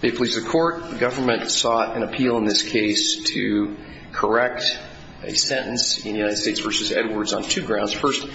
They please the court, the government sought an appeal in this case to correct a sentence in the United States v. Edwards on two grounds. First,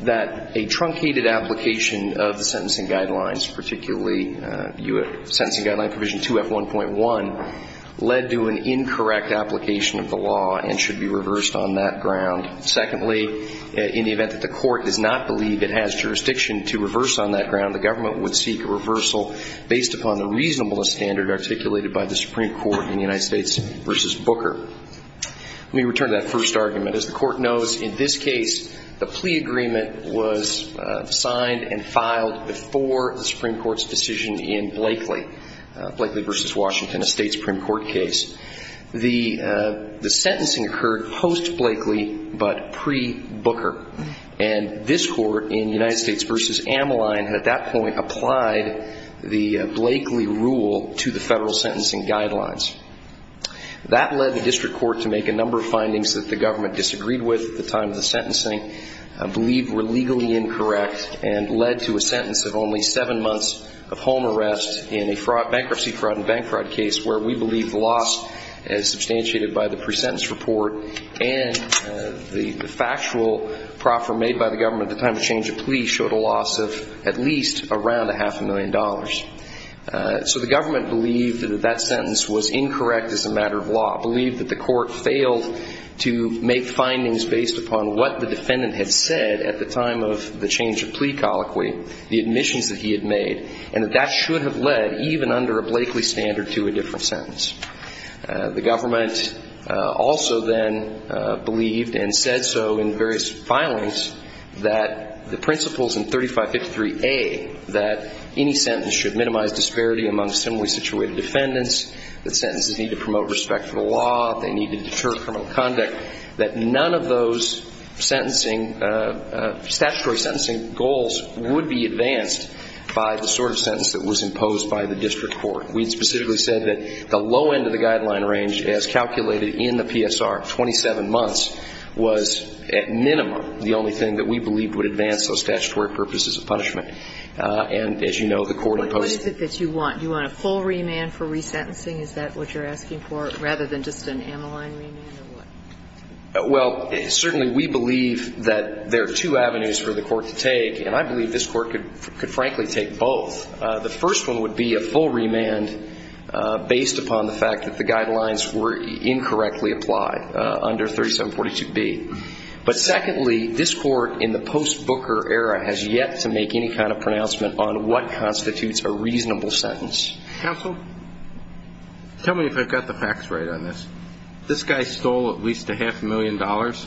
that a truncated application of the sentencing guidelines, particularly sentencing guideline provision 2F1.1, led to an incorrect application of the law and should be reversed on that ground. Secondly, in the event that the court does not believe it has jurisdiction to reverse on that ground, the government would seek a reversal based upon the reasonableness standard articulated by the Supreme Court in the United States v. Booker. Let me return to that first argument. As the court knows, in this case, the plea agreement was signed and filed before the Supreme Court's decision in Blakely v. Washington, a State Supreme Court case. The sentencing occurred post-Blakely but pre-Booker. And this court in United States v. Ammaline at that point applied the Blakely rule to the federal sentencing guidelines. That led the district court to make a number of findings that the government disagreed with at the time of the sentencing, believed were legally incorrect, and led to a sentence of only seven months of home arrest in a bankruptcy fraud and bank fraud case where we believe the loss as substantiated by the pre-sentence report and the factual proffer made by the government at the time of change of plea showed a loss of at least around a half a million dollars. So the government believed that that sentence was incorrect as a matter of law, believed that the court failed to make findings based upon what the defendant had said at the time of the change of plea colloquy, the admissions that he had made, and that that should have led, even under a Blakely standard, to a different sentence. The government also then believed and said so in various filings that the principles in 3553A, that any sentence should minimize disparity among similarly situated defendants, that sentences need to promote respect for the law, they need to deter criminal conduct, that none of those sentencing, statutory sentencing goals would be advanced by the sort of sentence that was imposed by the district court. We specifically said that the low end of the guideline range as calculated in the PSR, 27 months, was at minimum the only thing that we believed would advance those statutory purposes of punishment. And as you know, the court imposed it. But what is it that you want? Do you want a full remand for resentencing? Is that what you're asking for, rather than just an Ameline remand or what? Well, certainly we believe that there are two avenues for the court to take, and I believe this court could frankly take both. The first one would be a full remand based upon the fact that the guidelines were incorrectly applied under 3742B. But secondly, this court in the post-Booker era has yet to make any kind of pronouncement on what constitutes a reasonable sentence. Counsel, tell me if I've got the facts right on this. This guy stole at least a half a million dollars.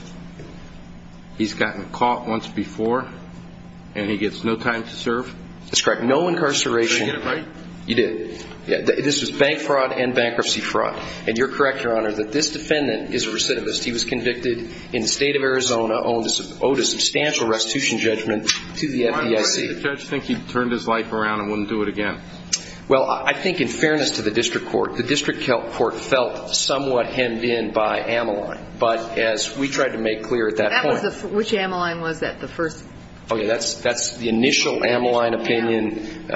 He's gotten caught once before, and he gets no time to serve? That's correct. No incarceration. Did I get it right? You did. This was bank fraud and bankruptcy fraud. And you're correct, Your Honor, that this defendant is a recidivist. He was convicted in the state of Arizona, owed a substantial restitution judgment to the FDIC. Why did the judge think he turned his life around and wouldn't do it again? Well, I think in fairness to the district court, the district court felt somewhat hemmed in by Ameline. But as we tried to make clear at that point. Which Ameline was that, the first? Okay, that's the initial Ameline opinion.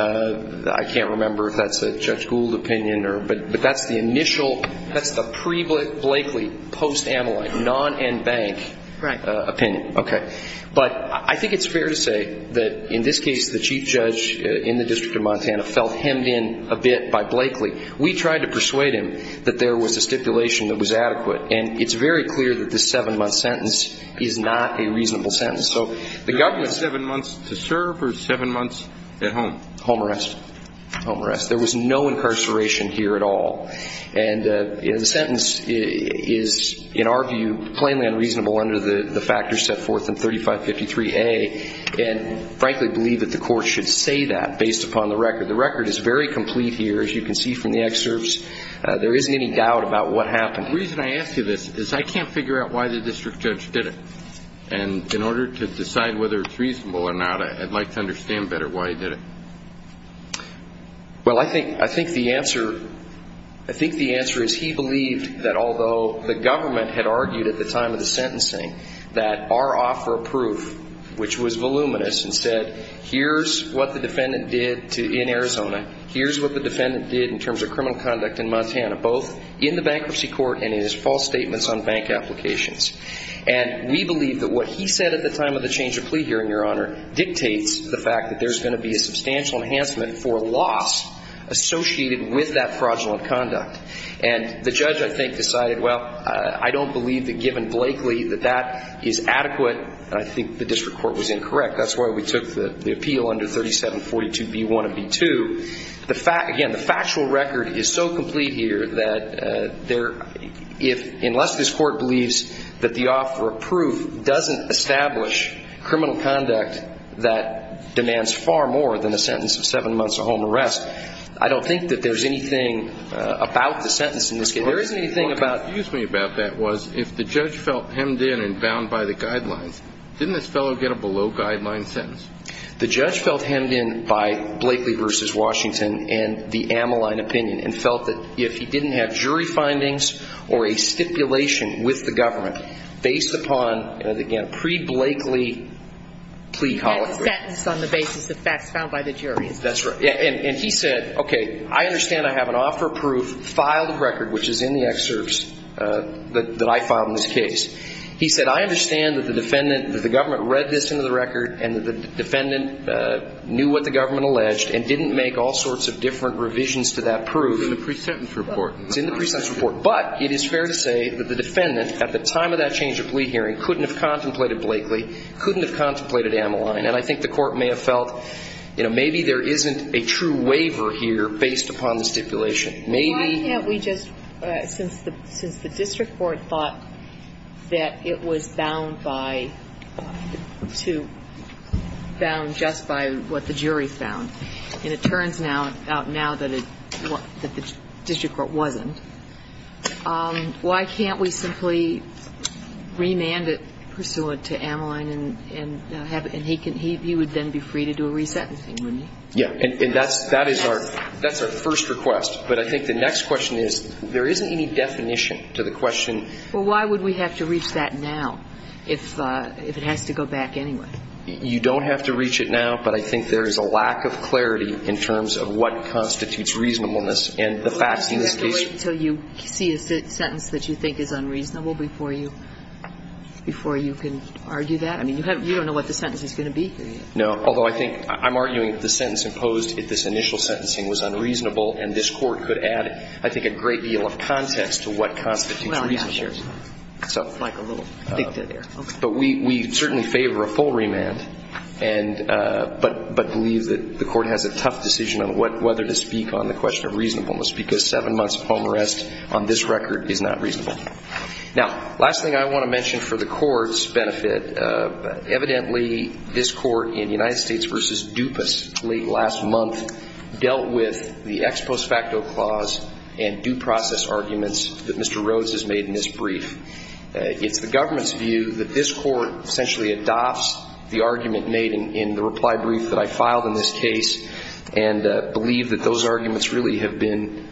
I can't remember if that's a Judge Gould opinion. But that's the initial, that's the pre-Blakely, post-Ameline, non-NBank opinion. Right. Okay. But I think it's fair to say that in this case, the chief judge in the District of Montana felt hemmed in a bit by Blakely. We tried to persuade him that there was a stipulation that was adequate. And it's very clear that this seven-month sentence is not a reasonable sentence. Seven months to serve or seven months at home? Home arrest. Home arrest. There was no incarceration here at all. And the sentence is, in our view, plainly unreasonable under the factors set forth in 3553A. And I frankly believe that the court should say that based upon the record. The record is very complete here, as you can see from the excerpts. There isn't any doubt about what happened. The reason I ask you this is I can't figure out why the district judge did it. And in order to decide whether it's reasonable or not, I'd like to understand better why he did it. Well, I think the answer is he believed that although the government had argued at the time of the sentencing that our offer of proof, which was voluminous, and said here's what the defendant did in Arizona, here's what the defendant did in terms of criminal conduct in Montana, both in the bankruptcy court and in his false statements on bank applications. And we believe that what he said at the time of the change of plea hearing, Your Honor, dictates the fact that there's going to be a substantial enhancement for loss associated with that fraudulent conduct. And the judge, I think, decided, well, I don't believe that given Blakely that that is adequate. I think the district court was incorrect. That's why we took the appeal under 3742B1 and B2. Again, the factual record is so complete here that unless this court believes that the offer of proof doesn't establish criminal conduct that demands far more than a sentence of seven months of home arrest, I don't think that there's anything about the sentence in this case. There isn't anything about it. Well, what confused me about that was if the judge felt hemmed in and bound by the guidelines, didn't this fellow get a below-guideline sentence? The judge felt hemmed in by Blakely v. Washington and the Ammoline opinion and felt that if he didn't have jury findings or a stipulation with the government based upon, and again, pre-Blakely plea colloquy. That's a sentence on the basis of facts found by the jury. That's right. And he said, okay, I understand I have an offer of proof, filed a record, which is in the excerpts that I filed in this case. He said, I understand that the defendant, that the government read this into the record and that the defendant knew what the government alleged and didn't make all sorts of different revisions to that proof. It's in the pre-sentence report. It's in the pre-sentence report. But it is fair to say that the defendant at the time of that change of plea hearing couldn't have contemplated Blakely, couldn't have contemplated Ammoline, and I think the Court may have felt, you know, maybe there isn't a true waiver here based upon the stipulation. Why have we just, since the district court thought that it was bound by, bound just by what the jury found, and it turns out now that the district court wasn't, why can't we simply remand it pursuant to Ammoline and he would then be free to do a re-sentencing, wouldn't he? Yeah. And that's our first request. But I think the next question is, there isn't any definition to the question. Well, why would we have to reach that now if it has to go back anyway? You don't have to reach it now, but I think there is a lack of clarity in terms of what constitutes reasonableness and the facts in this case. Well, you have to wait until you see a sentence that you think is unreasonable before you can argue that. I mean, you don't know what the sentence is going to be. No. Although I think I'm arguing that the sentence imposed at this initial sentencing was unreasonable and this court could add, I think, a great deal of context to what constitutes reasonableness. Well, yeah. It's like a little dicta there. But we certainly favor a full remand, but believe that the court has a tough decision on whether to speak on the question of reasonableness because seven months of home arrest on this record is not reasonable. Now, last thing I want to mention for the court's benefit, evidently this court in United States v. DuPas late last month dealt with the ex-prospecto clause and due process arguments that Mr. Rhodes has made in his brief. It's the government's view that this court essentially adopts the argument made in the reply brief that I filed in this case and believe that those arguments really have been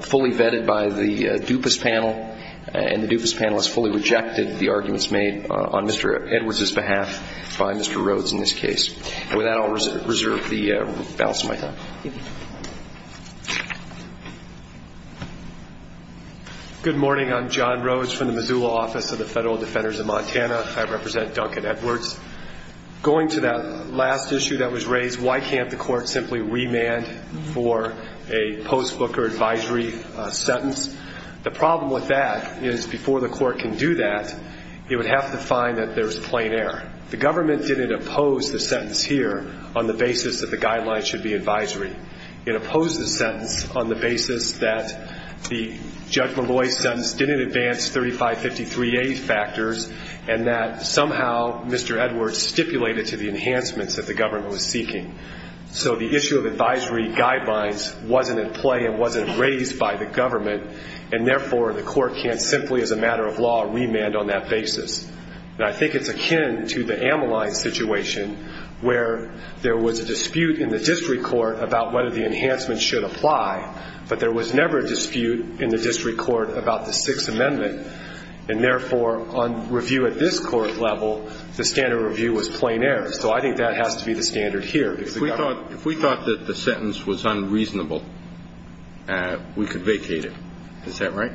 fully vetted by the DuPas panel, and the DuPas panel has fully rejected the arguments made on Mr. Edwards' behalf by Mr. Rhodes in this case. And with that, I'll reserve the balance of my time. Thank you. Good morning. I'm John Rhodes from the Missoula Office of the Federal Defenders of Montana. I represent Duncan Edwards. Going to that last issue that was raised, why can't the court simply remand for a post-Booker advisory sentence, the problem with that is before the court can do that, it would have to find that there's plain error. The government didn't oppose the sentence here on the basis that the guidelines should be advisory. It opposed the sentence on the basis that the Judge Malloy sentence didn't advance 3553A factors and that somehow Mr. Edwards stipulated to the enhancements that the government was seeking. So the issue of advisory guidelines wasn't in play and wasn't raised by the government and, therefore, the court can't simply, as a matter of law, remand on that basis. And I think it's akin to the Ameline situation where there was a dispute in the district court about whether the enhancements should apply, but there was never a dispute in the district court about the Sixth Amendment and, therefore, on review at this court level, the standard review was plain error. So I think that has to be the standard here. If we thought that the sentence was unreasonable, we could vacate it. Is that right?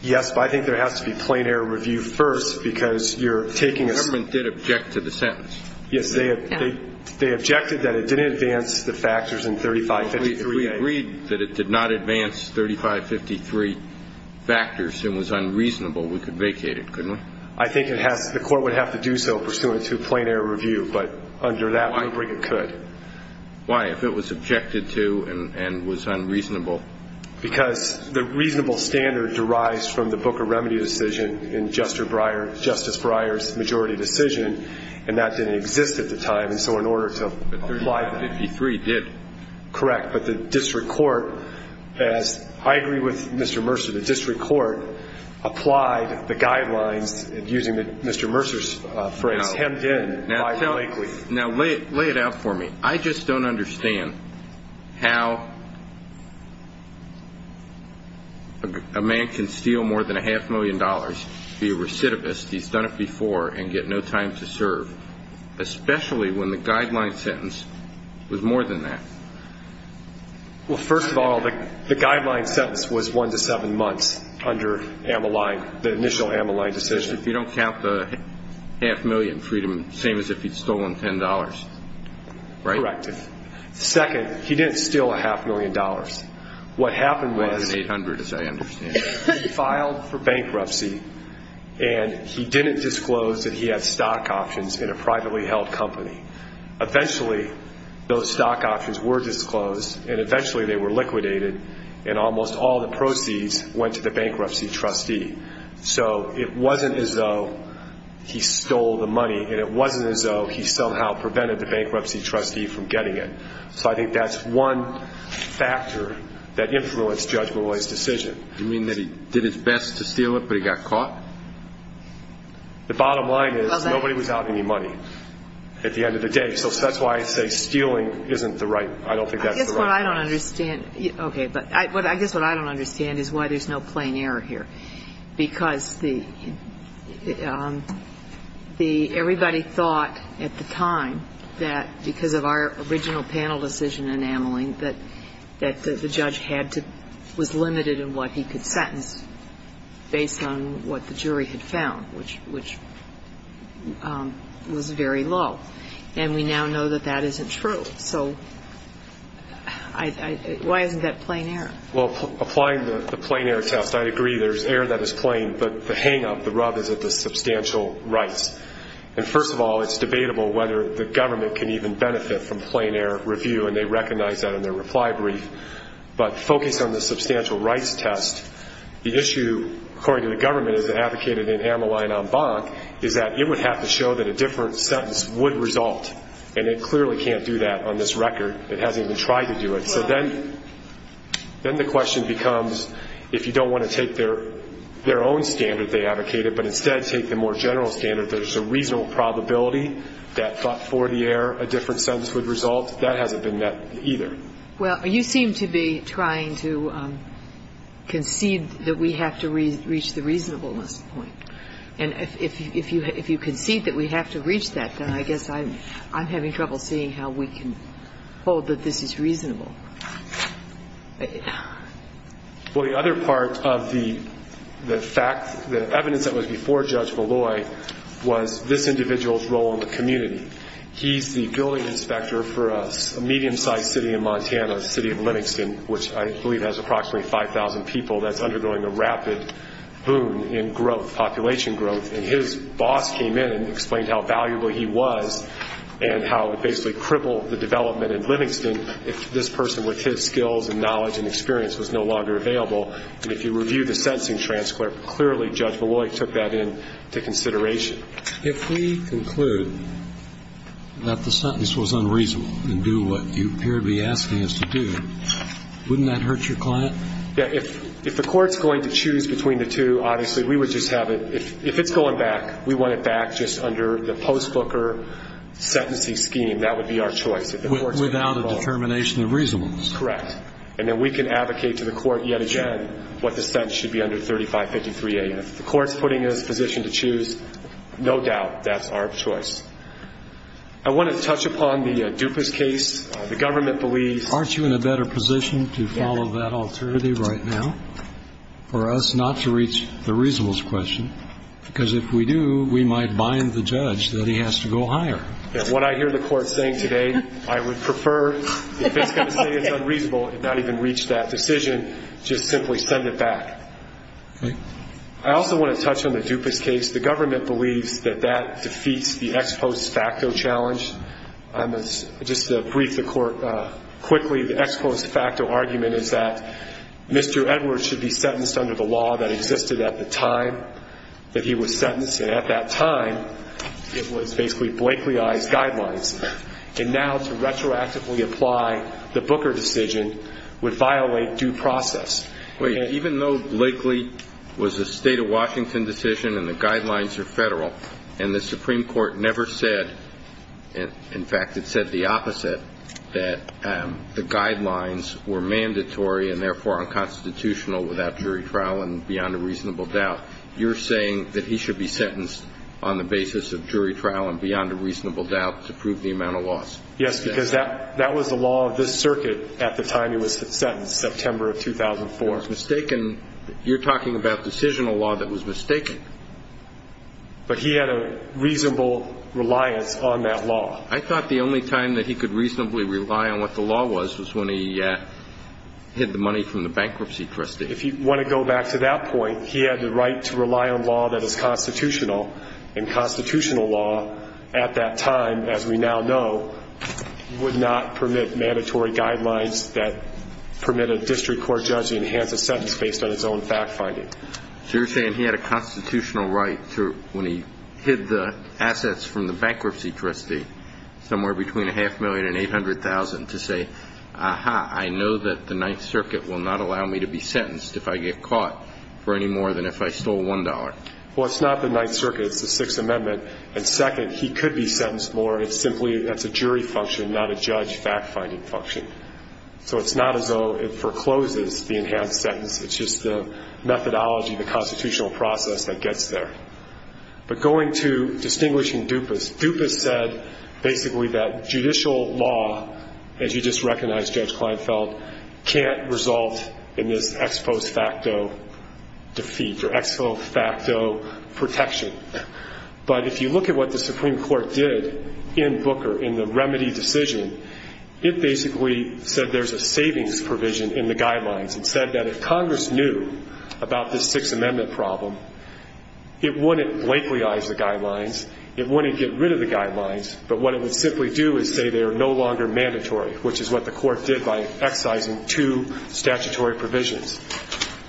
Yes, but I think there has to be plain error review first because you're taking a ---- The government did object to the sentence. Yes, they objected that it didn't advance the factors in 3553A. If we agreed that it did not advance 3553 factors and was unreasonable, we could vacate it, couldn't we? I think the court would have to do so pursuant to plain error review, but under that rubric, it could. Why, if it was objected to and was unreasonable? Because the reasonable standard derives from the Book of Remedy decision in Justice Breyer's majority decision, and that didn't exist at the time, and so in order to apply that ---- But 3553 did. Correct, but the district court, as I agree with Mr. Mercer, the district court applied the guidelines using Mr. Mercer's phrase, hemmed in by Blakely. Now lay it out for me. I just don't understand how a man can steal more than a half million dollars, be a recidivist, he's done it before, and get no time to serve, especially when the guideline sentence was more than that. Well, first of all, the guideline sentence was one to seven months under Ammaline, the initial Ammaline decision. If you don't count the half million freedom, same as if he'd stolen $10, right? Correct. Second, he didn't steal a half million dollars. What happened was ---- More than 800, as I understand. He filed for bankruptcy, and he didn't disclose that he had stock options in a privately held company. Eventually, those stock options were disclosed, and eventually they were liquidated, and almost all the proceeds went to the bankruptcy trustee. So it wasn't as though he stole the money, and it wasn't as though he somehow prevented the bankruptcy trustee from getting it. So I think that's one factor that influenced Judge Millay's decision. You mean that he did his best to steal it, but he got caught? The bottom line is nobody was out any money at the end of the day. So that's why I say stealing isn't the right ---- I don't think that's the right answer. I guess what I don't understand ---- okay, but I guess what I don't understand is why there's no plain error here. Because the ---- everybody thought at the time that because of our original panel decision in Ammaline that the judge had to ---- was limited in what he could sentence based on what the jury had found, which was very low. And we now know that that isn't true. So why isn't that plain error? Well, applying the plain error test, I agree there's error that is plain, but the hang-up, the rub is at the substantial rights. And first of all, it's debatable whether the government can even benefit from plain error review, and they recognize that in their reply brief. But focused on the substantial rights test, the issue according to the government is that advocated in Ammaline en banc is that it would have to show that a different sentence would result. And it clearly can't do that on this record. It hasn't even tried to do it. So then the question becomes if you don't want to take their own standard they advocated, but instead take the more general standard, there's a reasonable probability that for the error a different sentence would result, that hasn't been met either. Well, you seem to be trying to concede that we have to reach the reasonableness point. And if you concede that we have to reach that, then I guess I'm having trouble seeing how we can hold that this is reasonable. Well, the other part of the fact, the evidence that was before Judge Molloy was this individual's role in the community. He's the building inspector for a medium-sized city in Montana, the city of Livingston, which I believe has approximately 5,000 people that's undergoing a rapid boom in growth, population growth. And his boss came in and explained how valuable he was and how it basically crippled the development in Livingston if this person with his skills and knowledge and experience was no longer available. And if you review the sentencing transcript, clearly Judge Molloy took that into consideration. If we conclude that the sentence was unreasonable and do what you appear to be asking us to do, wouldn't that hurt your client? Yeah. If the court's going to choose between the two, obviously we would just have it. If it's going back, we want it back just under the post-booker sentencing scheme. That would be our choice. Without a determination of reasonableness. Correct. And then we can advocate to the court yet again what the sentence should be under 3553A. And if the court's putting us in a position to choose, no doubt that's our choice. I want to touch upon the Dupas case. The government believes. Aren't you in a better position to follow that alternative right now for us not to reach the reasonableness question? Because if we do, we might bind the judge that he has to go higher. What I hear the court saying today, I would prefer if it's going to say it's unreasonable and not even reach that decision, just simply send it back. Okay. I also want to touch on the Dupas case. The government believes that that defeats the ex post facto challenge. Just to brief the court quickly, the ex post facto argument is that Mr. Edwards should be sentenced under the law that existed at the time that he was sentenced. And at that time, it was basically Blakely I's guidelines. And now to retroactively apply the Booker decision would violate due process. Even though Blakely was a state of Washington decision and the guidelines are federal and the Supreme Court never said, in fact, it said the opposite that the guidelines were mandatory and therefore unconstitutional without jury trial and beyond a reasonable doubt. You're saying that he should be sentenced on the basis of jury trial and beyond a reasonable doubt to prove the amount of loss. Yes, because that was the law of this circuit at the time he was sentenced, September of 2004. You're talking about decisional law that was mistaken. But he had a reasonable reliance on that law. I thought the only time that he could reasonably rely on what the law was was when he hid the money from the bankruptcy trustee. If you want to go back to that point, he had the right to rely on law that is constitutional. And constitutional law at that time, as we now know, would not permit mandatory guidelines that permitted a district court judge to enhance a sentence based on his own fact-finding. So you're saying he had a constitutional right when he hid the assets from the bankruptcy trustee, somewhere between a half million and 800,000, to say, aha, I know that the Ninth Circuit will not allow me to be sentenced if I get caught for any more than if I stole $1. Well, it's not the Ninth Circuit, it's the Sixth Amendment. And second, he could be sentenced more. It's simply that's a jury function, not a judge fact-finding function. So it's not as though it forecloses the enhanced sentence. It's just the methodology, the constitutional process that gets there. But going to distinguishing Dupas. Dupas said basically that judicial law, as you just recognized, Judge Kleinfeld, can't result in this ex post facto defeat or ex post facto protection. But if you look at what the Supreme Court did in Booker in the remedy decision, it basically said there's a savings provision in the guidelines. It said that if Congress knew about this Sixth Amendment problem, it wouldn't blankleyize the guidelines. It wouldn't get rid of the guidelines. But what it would simply do is say they are no longer mandatory, which is what the court did by excising two statutory provisions.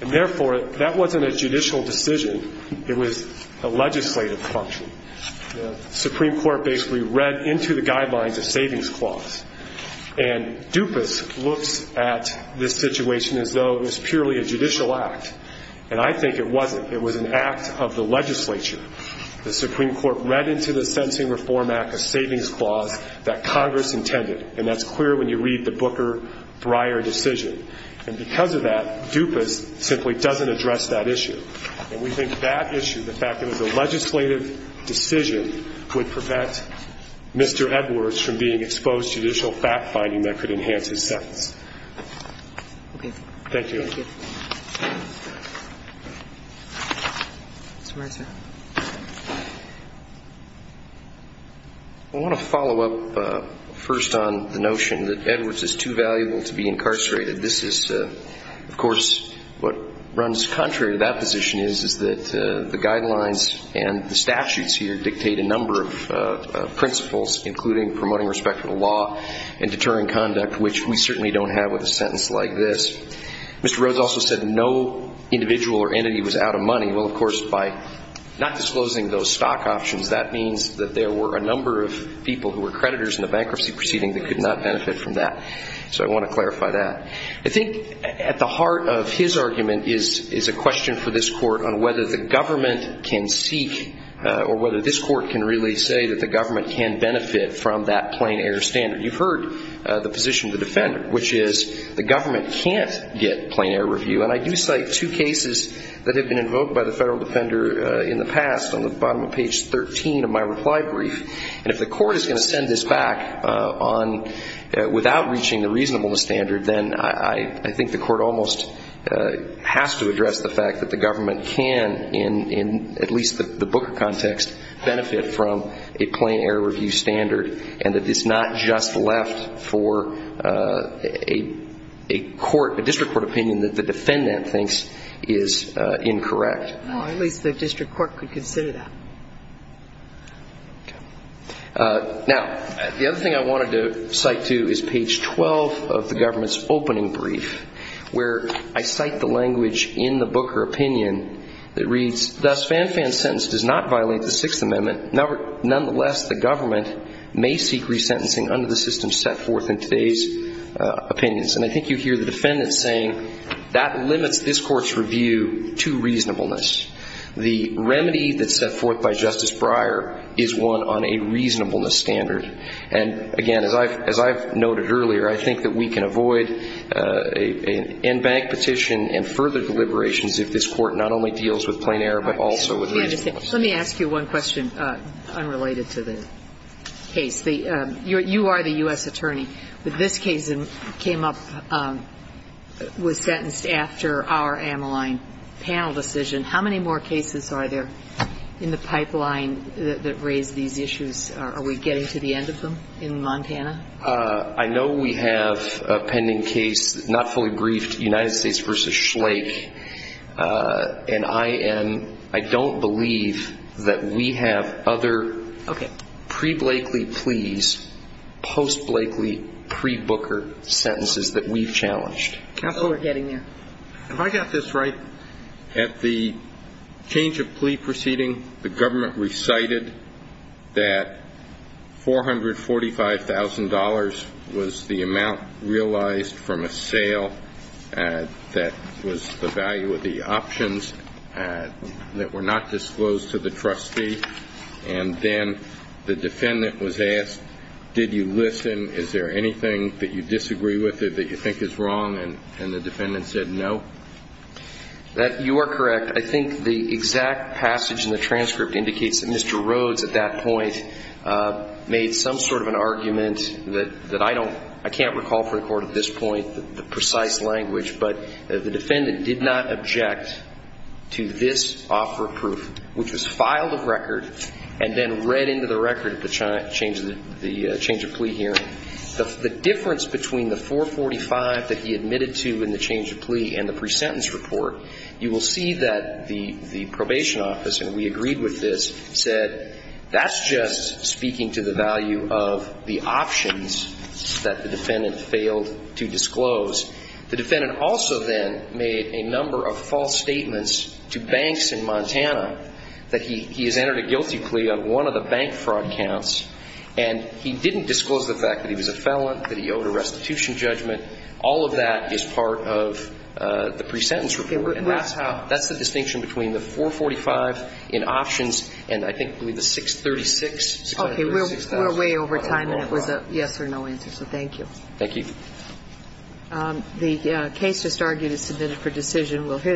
And therefore, that wasn't a judicial decision. It was a legislative function. The Supreme Court basically read into the guidelines a savings clause. And Dupas looks at this situation as though it was purely a judicial act. And I think it wasn't. It was an act of the legislature. The Supreme Court read into the Sentencing Reform Act a savings clause that Congress intended. And that's clear when you read the Booker-Brier decision. And because of that, Dupas simply doesn't address that issue. And we think that issue, the fact that it was a legislative decision, would prevent Mr. Edwards from being exposed to judicial fact-finding that could enhance his sentence. Okay. Thank you. Thank you. Mr. Reiser. I want to follow up first on the notion that Edwards is too valuable to be incarcerated. This is, of course, what runs contrary to that position, is that the guidelines and the statutes here dictate a number of principles, including promoting respect for the law and deterring conduct, which we certainly don't have with a sentence like this. Mr. Rhodes also said no individual or entity was out of money. Well, of course, by not disclosing those stock options, that means that there were a number of people who were creditors in the bankruptcy proceeding that could not benefit from that. So I want to clarify that. I think at the heart of his argument is a question for this court on whether the government can seek or whether this court can really say that the government can benefit from that plain air standard. You've heard the position of the defender, which is the government can't get plain air review. And I do cite two cases that have been invoked by the federal defender in the past, on the bottom of page 13 of my reply brief. And if the court is going to send this back without reaching the reasonableness standard, then I think the court almost has to address the fact that the government can, in at least the Booker context, benefit from a plain air review standard and that it's not just left for a district court opinion that the defendant thinks is incorrect. Well, at least the district court could consider that. Okay. Now, the other thing I wanted to cite, too, is page 12 of the government's opening brief, where I cite the language in the Booker opinion that reads, thus Fanfan's sentence does not violate the Sixth Amendment. Nonetheless, the government may seek resentencing under the system set forth in today's opinions. And I think you hear the defendant saying that limits this Court's review to reasonableness. The remedy that's set forth by Justice Breyer is one on a reasonableness standard. And, again, as I've noted earlier, I think that we can avoid an in-bank petition and further deliberations if this Court not only deals with plain air but also with reasonableness. Let me ask you one question unrelated to the case. You are the U.S. attorney. This case came up, was sentenced after our Ameline panel decision. How many more cases are there in the pipeline that raise these issues? Are we getting to the end of them in Montana? I know we have a pending case, not fully briefed, United States v. Schlake. And I don't believe that we have other pre-Blakely pleas, post-Blakely, pre-Booker sentences that we've challenged. Counsel, we're getting there. Have I got this right? At the change of plea proceeding, the government recited that $445,000 was the amount realized from a sale that was the value of the options that were not disclosed to the trustee. And then the defendant was asked, did you listen? Is there anything that you disagree with or that you think is wrong? And the defendant said no. You are correct. I think the exact passage in the transcript indicates that Mr. Rhodes, at that point, made some sort of an argument that I don't, I can't recall for the court at this point the precise language, but the defendant did not object to this offer of proof, which was filed a record and then read into the record at the change of plea hearing. The difference between the $445,000 that he admitted to in the change of plea and the pre-sentence report, you will see that the probation office, and we agreed with this, said that's just speaking to the value of the options that the defendant failed to disclose. The defendant also then made a number of false statements to banks in Montana that he has entered a guilty plea on one of the bank fraud counts, and he didn't disclose the fact that he was a felon, that he owed a restitution judgment. All of that is part of the pre-sentence report, and that's how, that's the distinction between the $445,000 in options and I think, I believe, the $636,000. Okay. We're way over time, and it was a yes or no answer, so thank you. Thank you. The case just argued is submitted for decision. We'll hear that.